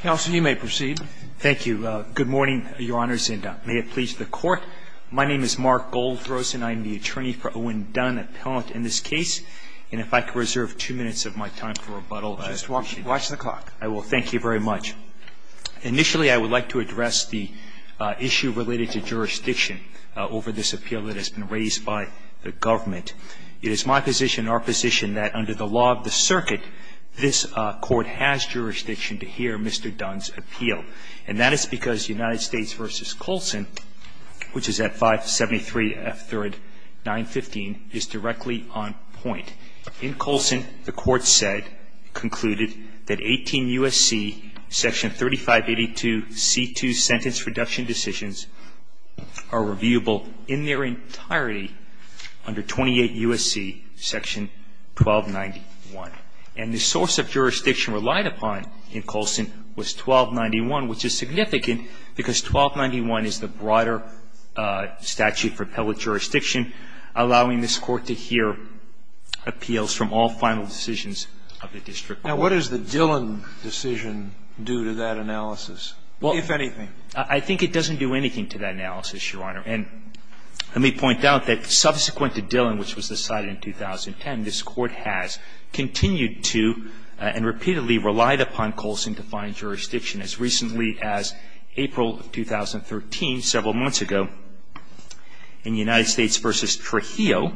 Counsel, you may proceed. Thank you. Good morning, your honors, and may it please the court. My name is Mark Goldfrozen. I'm the attorney for Owen Dunn, appellant in this case. And if I could reserve two minutes of my time for rebuttal. Just watch the clock. I will. Thank you very much. Initially, I would like to address the issue related to jurisdiction over this appeal that has been raised by the government. It is my position, our position, that under the law of the circuit, this court has jurisdiction to hear Mr. Dunn Mr. Dunn's appeal. And that is because United States v. Colson, which is at 573 F 3rd 915, is directly on point. In Colson, the court said, concluded, that 18 U.S.C., Section 3582 C2 Sentence Reduction Decisions, are reviewable in their entirety under 28 U.S.C. Section 1291. And the source of jurisdiction relied upon in Colson was 1291, which is significant, because 1291 is the broader statute for appellate jurisdiction, allowing this court to hear appeals from all final decisions of the district court. Now, what does the Dillon decision do to that analysis, if anything? I think it doesn't do anything to that analysis, Your Honor. And let me point out that subsequent to Dillon, which was decided in 2010, this court has continued to and repeatedly relied upon Colson to find jurisdiction. As recently as April of 2013, several months ago, in United States v. Trujillo,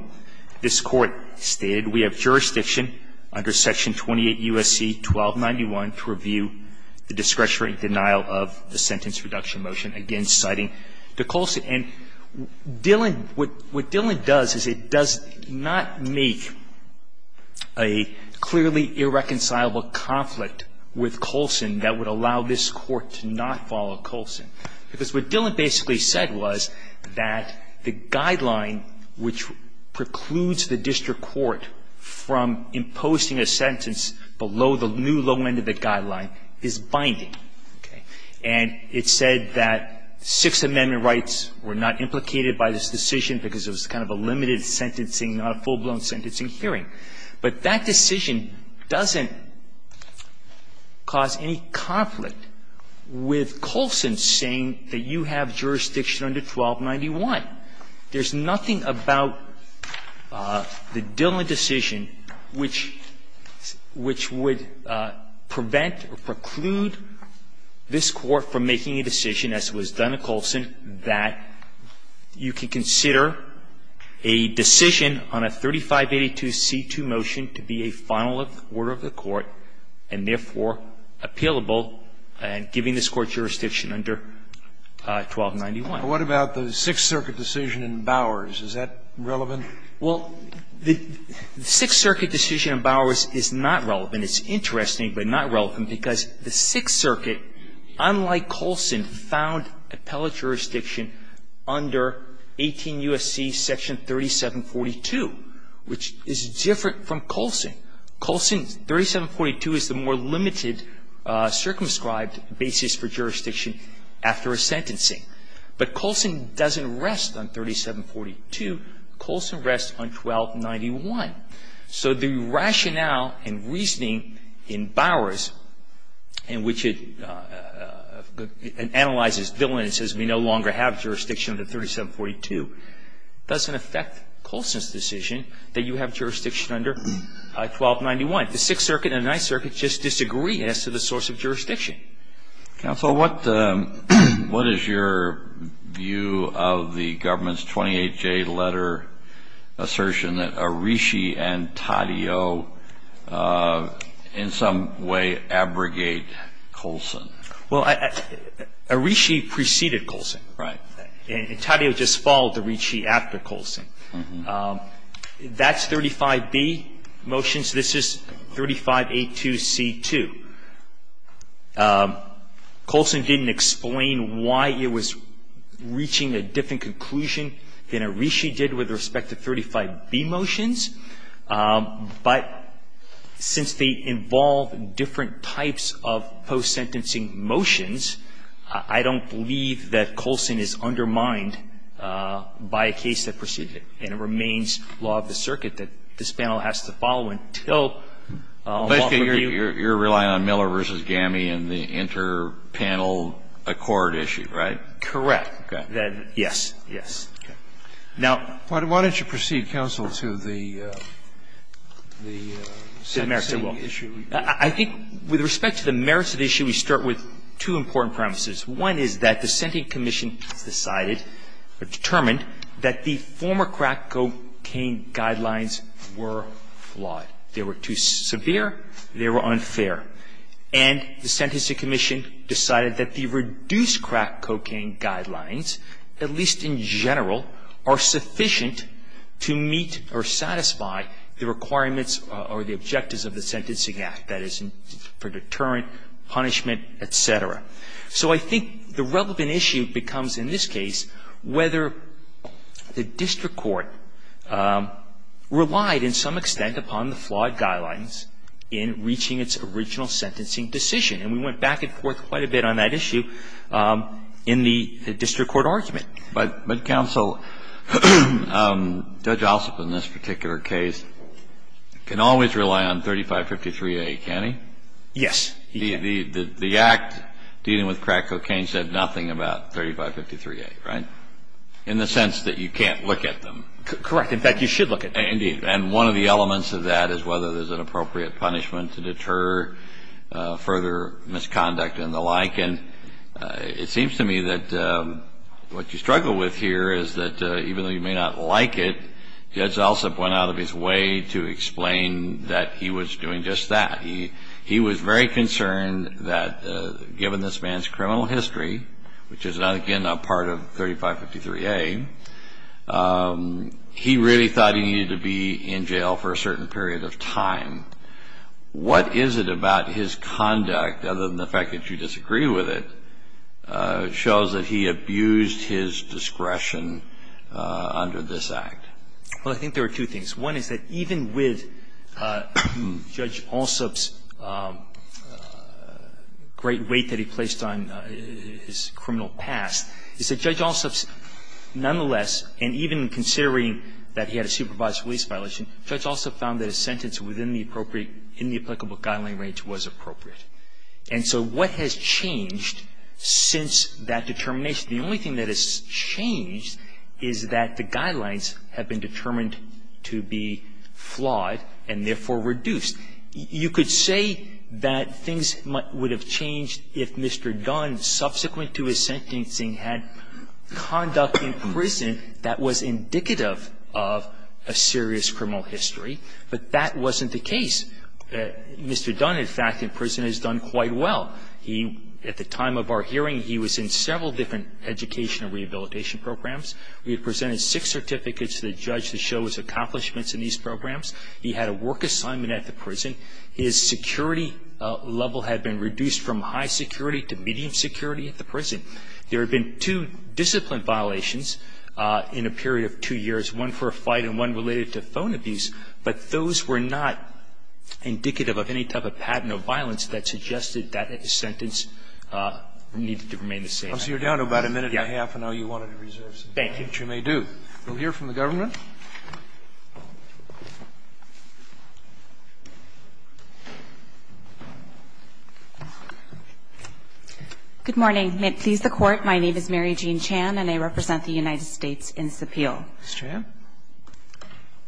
this court stated, we have jurisdiction under Section 28 U.S.C. 1291 to review the discretionary denial of the sentence reduction motion, again citing to Colson. And Dillon, what Dillon does is it does not make a clearly irreconcilable conflict with Colson that would allow this court to not follow Colson. Because what Dillon basically said was that the guideline which precludes the district court from imposing a sentence below the new low end of the guideline is binding. And it said that Sixth Amendment rights were not implicated by this decision because it was kind of a limited sentencing, not a full-blown sentencing hearing. But that decision doesn't cause any conflict with Colson saying that you have jurisdiction under 1291. There's nothing about the Dillon decision which would prevent or preclude this court from making a decision, as was done to Colson, that you could consider a decision on a 3582 C.2. motion to be a final order of the court and therefore appealable and giving this Court jurisdiction under 1291. What about the Sixth Circuit decision in Bowers? Is that relevant? Well, the Sixth Circuit decision in Bowers is not relevant. It's interesting, but not relevant, because the Sixth Circuit, unlike Colson, found appellate jurisdiction under 18 U.S.C. section 3742, which is different from Colson. Colson, 3742 is the more limited circumscribed basis for jurisdiction after a sentencing. But Colson doesn't rest on 3742. Colson rests on 1291. So the rationale and reasoning in Bowers, in which it analyzes Dillon and says we no longer have jurisdiction under 3742, doesn't affect Colson's decision that you have jurisdiction under 1291. The Sixth Circuit and Ninth Circuit just disagree as to the source of jurisdiction. Counsel, what is your view of the government's 28-J letter assertion that Arishi and Taddeo in some way abrogate Colson? Well, Arishi preceded Colson. Right. And Taddeo just followed Arishi after Colson. That's 35B motions. This is 35A2C2. Colson didn't explain why it was reaching a different conclusion than Arishi did with respect to 35B motions. But since they involve different types of post-sentencing motions, I don't believe that Colson is undermined by a case that preceded it. And it remains law of the circuit that this panel has to follow until a law review. You're relying on Miller v. Gammey and the inter-panel accord issue, right? Correct. Yes. Yes. Now why don't you proceed, counsel, to the sentencing issue? I think with respect to the merits of the issue, we start with two important premises. One is that the sentencing commission decided or determined that the former crack cocaine guidelines were flawed. They were too severe. They were unfair. And the sentencing commission decided that the reduced crack cocaine guidelines, at least in general, are sufficient to meet or satisfy the requirements or the objectives of the Sentencing Act, that is, for deterrent, punishment, et cetera. So I think the relevant issue becomes, in this case, whether the district court relied in some extent upon the flawed guidelines in reaching its original sentencing decision. And we went back and forth quite a bit on that issue in the district court argument. But, counsel, Judge Ossoff in this particular case can always rely on 3553A, can he? Yes. The Act dealing with crack cocaine said nothing about 3553A, right? In the sense that you can't look at them. Correct. In fact, you should look at them. Indeed. And one of the elements of that is whether there's an appropriate punishment to deter further misconduct and the like. And it seems to me that what you struggle with here is that even though you may not like it, Judge Ossoff went out of his way to explain that he was doing just that. He was very concerned that given this man's criminal history, which is, again, a part of 3553A, he really thought he needed to be in jail for a certain period of time. What is it about his conduct, other than the fact that you disagree with it, shows that he abused his discretion under this Act? Well, I think there are two things. One is that even with Judge Ossoff's great weight that he placed on his criminal past, is that Judge Ossoff's nonetheless, and even considering that he had a supervised release violation, Judge Ossoff found that his sentence within the appropriate, in the applicable guideline range, was appropriate. And so what has changed since that determination? The only thing that has changed is that the guidelines have been determined to be flawed and therefore reduced. You could say that things would have changed if Mr. Dunn, subsequent to his sentencing, had conduct in prison that was indicative of a serious criminal history, but that wasn't the case. Mr. Dunn, in fact, in prison has done quite well. He, at the time of our hearing, he was in several different educational rehabilitation programs. We had presented six certificates to the judge to show his accomplishments in these programs. He had a work assignment at the prison. His security level had been reduced from high security to medium security at the prison. There had been two discipline violations in a period of two years, one for a fight and one related to phone abuse, but those were not indicative of any type of patent violation. The only thing that has changed is that the guidelines have been reduced from a serious criminal history to a very specific type of violence that suggested that the sentence needed to remain the same. Roberts, you're down to about a minute and a half, and I know you wanted to reserve some time. Thank you. Which you may do. We'll hear from the government. Good morning. May it please the Court, my name is Mary Jean Chan, and I represent the United States in this appeal. Ms. Tran?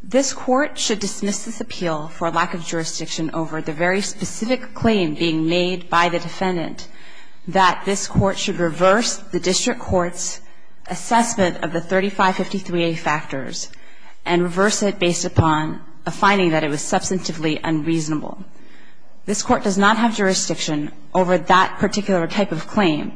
This Court should dismiss this appeal for lack of jurisdiction over the very specific claim being made by the defendant that this Court should reverse the district court's assessment of the 3553A factors and reverse it based upon a finding that it was substantively unreasonable. This Court does not have jurisdiction over that particular type of claim.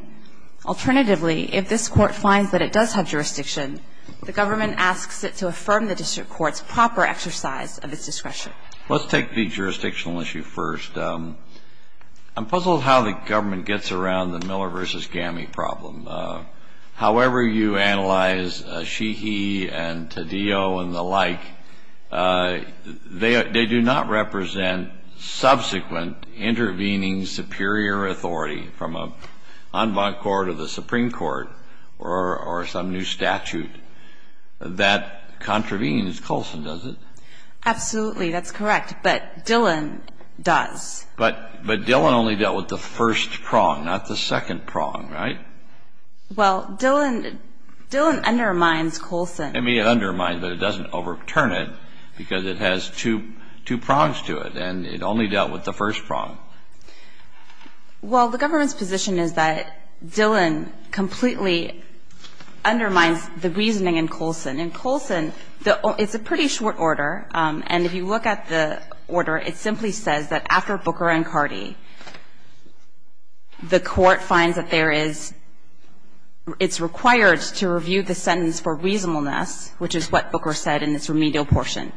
Alternatively, if this Court finds that it does have jurisdiction, the government asks it to affirm the district court's proper exercise of its discretion. Let's take the jurisdictional issue first. I'm puzzled how the government gets around the Miller v. Gammey problem. However you analyze Sheehy and Taddeo and the like, they do not represent subsequent intervening superior authority from an en banc court of the Supreme Court or some new statute that contravenes. Colson, does it? Absolutely, that's correct. But Dillon does. But Dillon only dealt with the first prong, not the second prong, right? Well, Dillon undermines Colson. It may undermine, but it doesn't overturn it because it has two prongs to it, and it only dealt with the first prong. Well, the government's position is that Dillon completely undermines the reasoning in Colson. In Colson, it's a pretty short order, and if you look at the order, it simply says that after Booker and Cardi, the court finds that there is, it's required to review the sentence for reasonableness, which is what Booker said in its remedial portion.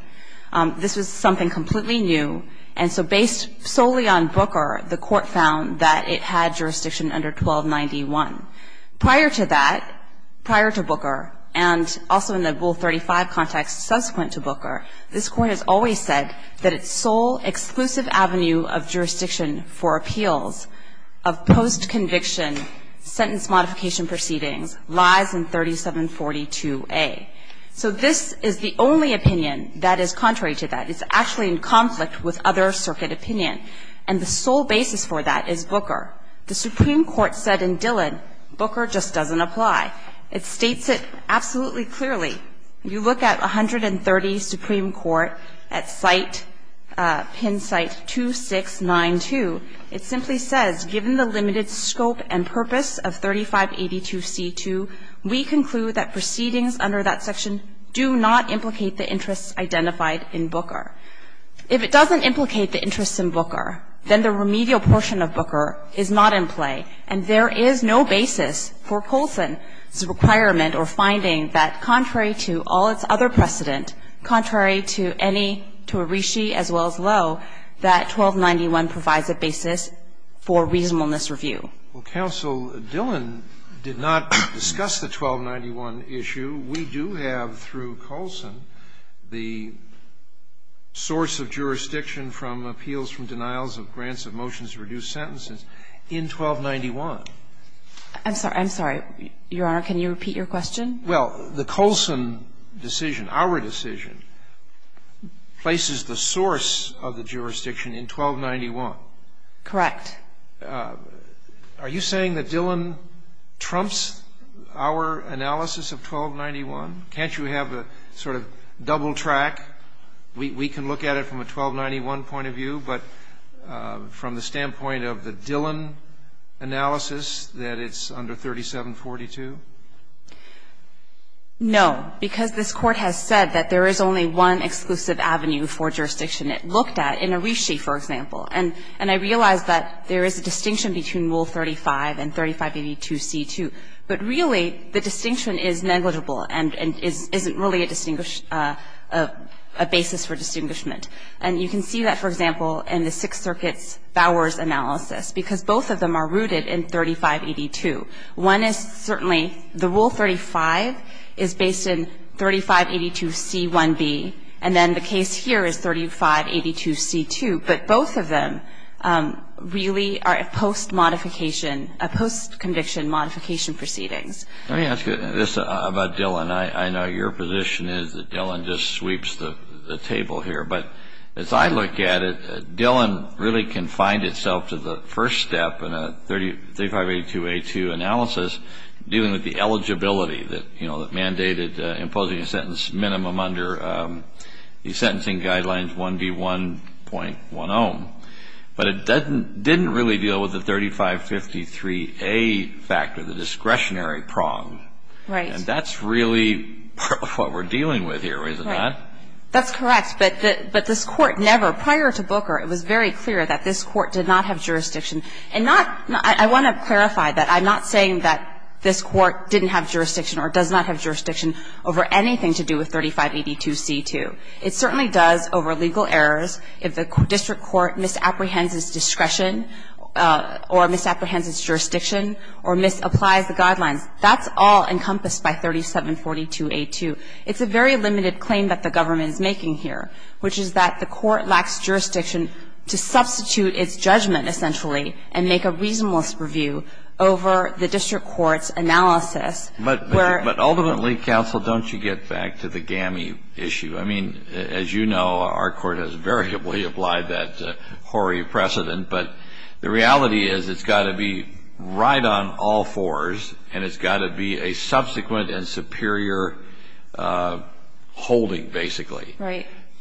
This was something completely new, and so based solely on Booker, the court found that it had jurisdiction under 1291. Prior to that, prior to Booker, and also in the Rule 35 context subsequent to Booker, this Court has always said that its sole exclusive avenue of jurisdiction for appeals of post-conviction sentence modification proceedings lies in 3742A. So this is the only opinion that is contrary to that. It's actually in conflict with other circuit opinion, and the sole basis for that is Booker. The Supreme Court said in Dillon, Booker just doesn't apply. It states it absolutely clearly. You look at 130 Supreme Court at site, pin site 2692, it simply says given the limited scope and purpose of 3582C2, we conclude that proceedings under that section do not implicate the interests identified in Booker. If it doesn't implicate the interests in Booker, then the remedial portion of Booker is not in play, and there is no basis for Coulson's requirement or finding that, contrary to all its other precedent, contrary to any, to Arishi as well as Lowe, that 1291 provides a basis for reasonableness review. Well, Counsel, Dillon did not discuss the 1291 issue. We do have, through Coulson, the source of jurisdiction from appeals from denials of grants of motions to reduce sentences in 1291. I'm sorry. I'm sorry. Your Honor, can you repeat your question? Well, the Coulson decision, our decision, places the source of the jurisdiction in 1291. Correct. Are you saying that Dillon trumps our analysis of 1291? Can't you have a sort of double track? We can look at it from a 1291 point of view, but from the standpoint of the Dillon analysis, that it's under 3742? No, because this Court has said that there is only one exclusive avenue for jurisdiction. It looked at, in Arishi, for example, and I realize that there is a distinction between Rule 35 and 3582C2, but really the distinction is negligible and isn't really a basis for distinguishment. And you can see that, for example, in the Sixth Circuit's Bowers analysis, because both of them are rooted in 3582. One is certainly, the Rule 35 is based in 3582C1B, and then the case here is 3582C2, but both of them really are post-modification, post-conviction modification proceedings. Let me ask you this about Dillon. I know your position is that Dillon just sweeps the table here, but as I look at it, Dillon really confined itself to the first step in a 3582A2 analysis, dealing with the eligibility that mandated imposing a sentence minimum under the sentencing guidelines 1D1.10, but it didn't really deal with the 3553A factor, the discretionary prong, and that's really what we're dealing with here, is it not? That's correct, but this Court never, prior to Booker, it was very clear that this Court did not have jurisdiction, and not, I want to clarify that I'm not saying that this Court didn't have jurisdiction or does not have jurisdiction over anything to do with 3582C2. It certainly does over legal errors if the district court misapprehends its discretion or misapprehends its jurisdiction or misapplies the guidelines. That's all encompassed by 3742A2. It's a very limited claim that the government is making here, which is that the court lacks jurisdiction to substitute its judgment, essentially, and make a reasonableness review over the district court's analysis where the district court's analysis is not a reasonable review. The reality is it's got to be right on all fours, and it's got to be a subsequent and superior holding, basically.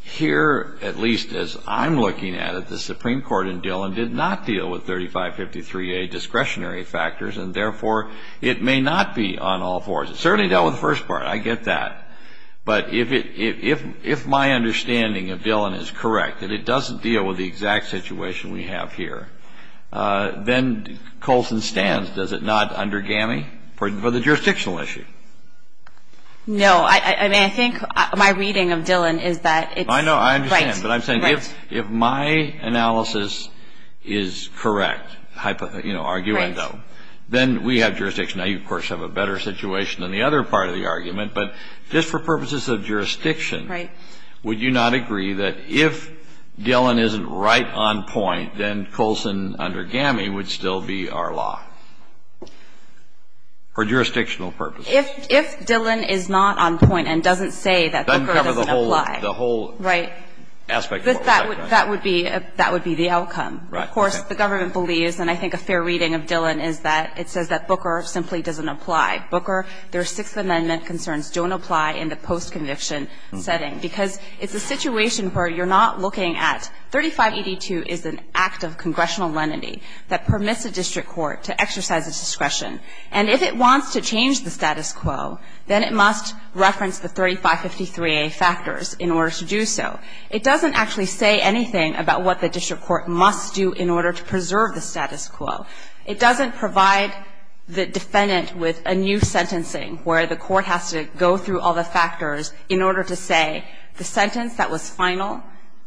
Here at least, as I'm looking at it, the Supreme Court in Dillon did not deal with 3553A discretionary factors, and therefore, it may not be on all fours. It certainly dealt with the first part, I get that, but if my understanding of Dillon is correct, that it doesn't deal with the exact situation we have here, then Colson stands, does it not, under GAMI for the jurisdictional issue? No. I mean, I think my reading of Dillon is that it's right. I know. I understand, but I'm saying if my analysis is correct, you know, arguendo, then we have jurisdiction. Now, you, of course, have a better situation than the other part of the argument, but just for purposes of jurisdiction, would you not agree that if Dillon isn't right on point, then Colson under GAMI would still be our law, for jurisdictional purposes? If Dillon is not on point and doesn't say that Booker doesn't apply, that would be the outcome. Of course, the government believes, and I think a fair reading of Dillon is that it says that Booker simply doesn't apply. Booker, their Sixth Amendment concerns don't apply in the post-conviction setting, because it's a situation where you're not looking at 3582 is an act of congressional lenity that permits a district court to exercise its discretion, and if it wants to change the status quo, then it must reference the 3553a factors in order to do so. It doesn't actually say anything about what the district court must do in order to preserve the status quo. It doesn't provide the defendant with a new sentencing where the court has to go through all the factors in order to say the sentence that was final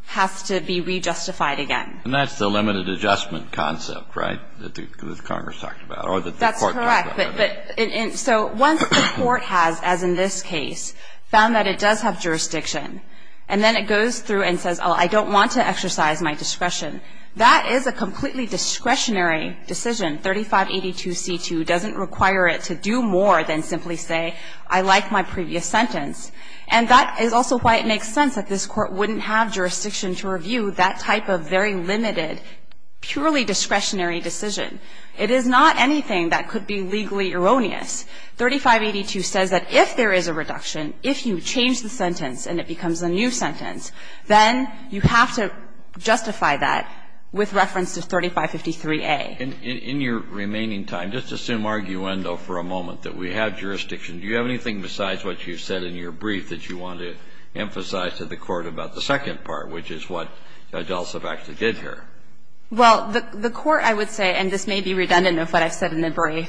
has to be rejustified again. And that's the limited adjustment concept, right, that Congress talked about, or that the court talked about? That's correct. So once the court has, as in this case, found that it does have jurisdiction, and then it goes through and says, oh, I don't want to exercise my discretion, that is a completely discretionary decision. 3582c2 doesn't require it to do more than simply say, I like my previous sentence. And that is also why it makes sense that this Court wouldn't have jurisdiction to review that type of very limited, purely discretionary decision. It is not anything that could be legally erroneous. 3582 says that if there is a reduction, if you change the sentence and it becomes a new sentence, then you have to justify that with reference to 3553a. And in your remaining time, just assume arguendo for a moment that we have jurisdiction. Do you have anything besides what you said in your brief that you want to emphasize to the Court about the second part, which is what Judge Alsop actually did here? Well, the Court, I would say, and this may be redundant of what I've said in the brief,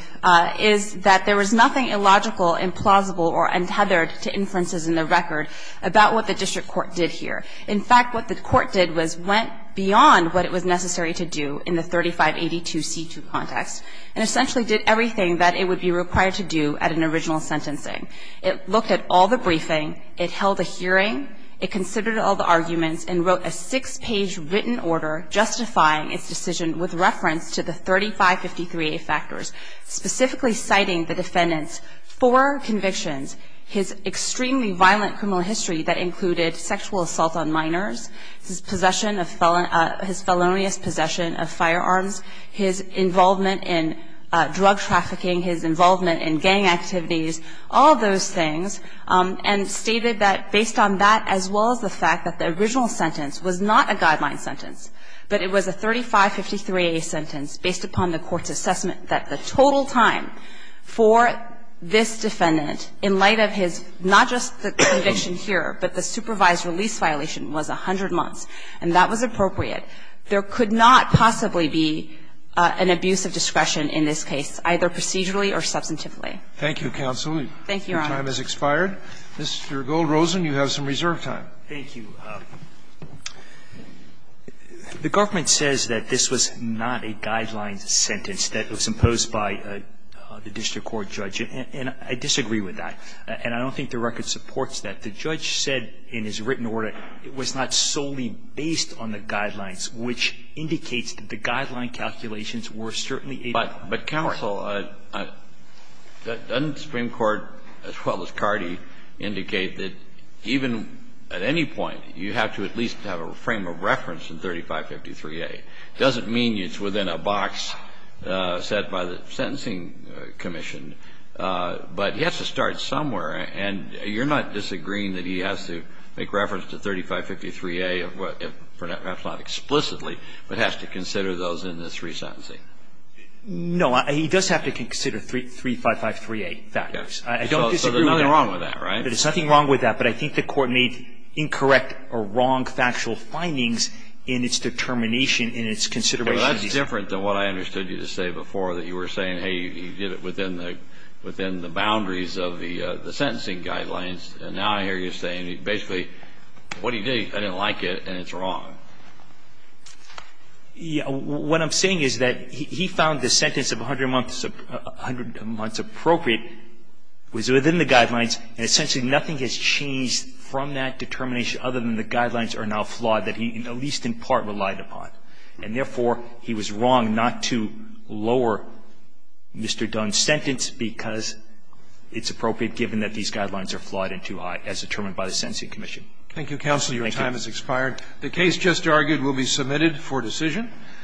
is that there was nothing illogical, implausible, or untethered to inferences in the record about what the district court did here. In fact, what the Court did was went beyond what it was necessary to do in the 3582c2 context and essentially did everything that it would be required to do at an original sentencing. It looked at all the briefing, it held a hearing, it considered all the arguments and wrote a six-page written order justifying its decision with reference to the 3553a factors, specifically citing the defendant's four convictions, his extremely violent criminal history that included sexual assault on minors, his possession of felon – his felonious possession of firearms, his involvement in drug trafficking, his involvement in gang activities, all those things, and stated that based on that as well as the fact that the original sentence was not a guideline sentence, but it was a 3553a sentence based upon the Court's assessment that the total time for this defendant, in light of his – not just the conviction here, but the supervised release violation was 100 months, and that was appropriate, there could not possibly be an abuse of discretion in this case, either procedurally or substantively. Thank you, counsel. Thank you, Your Honor. Your time has expired. Mr. Goldrosen, you have some reserve time. Thank you. The government says that this was not a guideline sentence that was imposed by a judge or the district court judge, and I disagree with that, and I don't think the record supports that. The judge said in his written order it was not solely based on the guidelines, which indicates that the guideline calculations were certainly a part of the court. But, counsel, doesn't Supreme Court, as well as Cardi, indicate that even at any point you have to at least have a frame of reference in 3553a? It doesn't mean it's within a box set by the sentencing commission, but he has to start somewhere, and you're not disagreeing that he has to make reference to 3553a, perhaps not explicitly, but has to consider those in this resentencing? No. He does have to consider 3553a factors. I don't disagree with that. So there's nothing wrong with that, right? There's nothing wrong with that, but I think the court made incorrect or wrong factual findings in its determination, in its consideration. But that's different than what I understood you to say before, that you were saying, hey, he did it within the boundaries of the sentencing guidelines, and now I hear you saying basically, what he did, I didn't like it, and it's wrong. What I'm saying is that he found the sentence of 100 months appropriate was within the guidelines, and essentially nothing has changed from that determination other than the guidelines are now flawed that he, at least in part, relied upon. And therefore, he was wrong not to lower Mr. Dunn's sentence because it's appropriate, given that these guidelines are flawed and too high, as determined by the sentencing commission. Thank you, counsel. Your time has expired. The case just argued will be submitted for decision.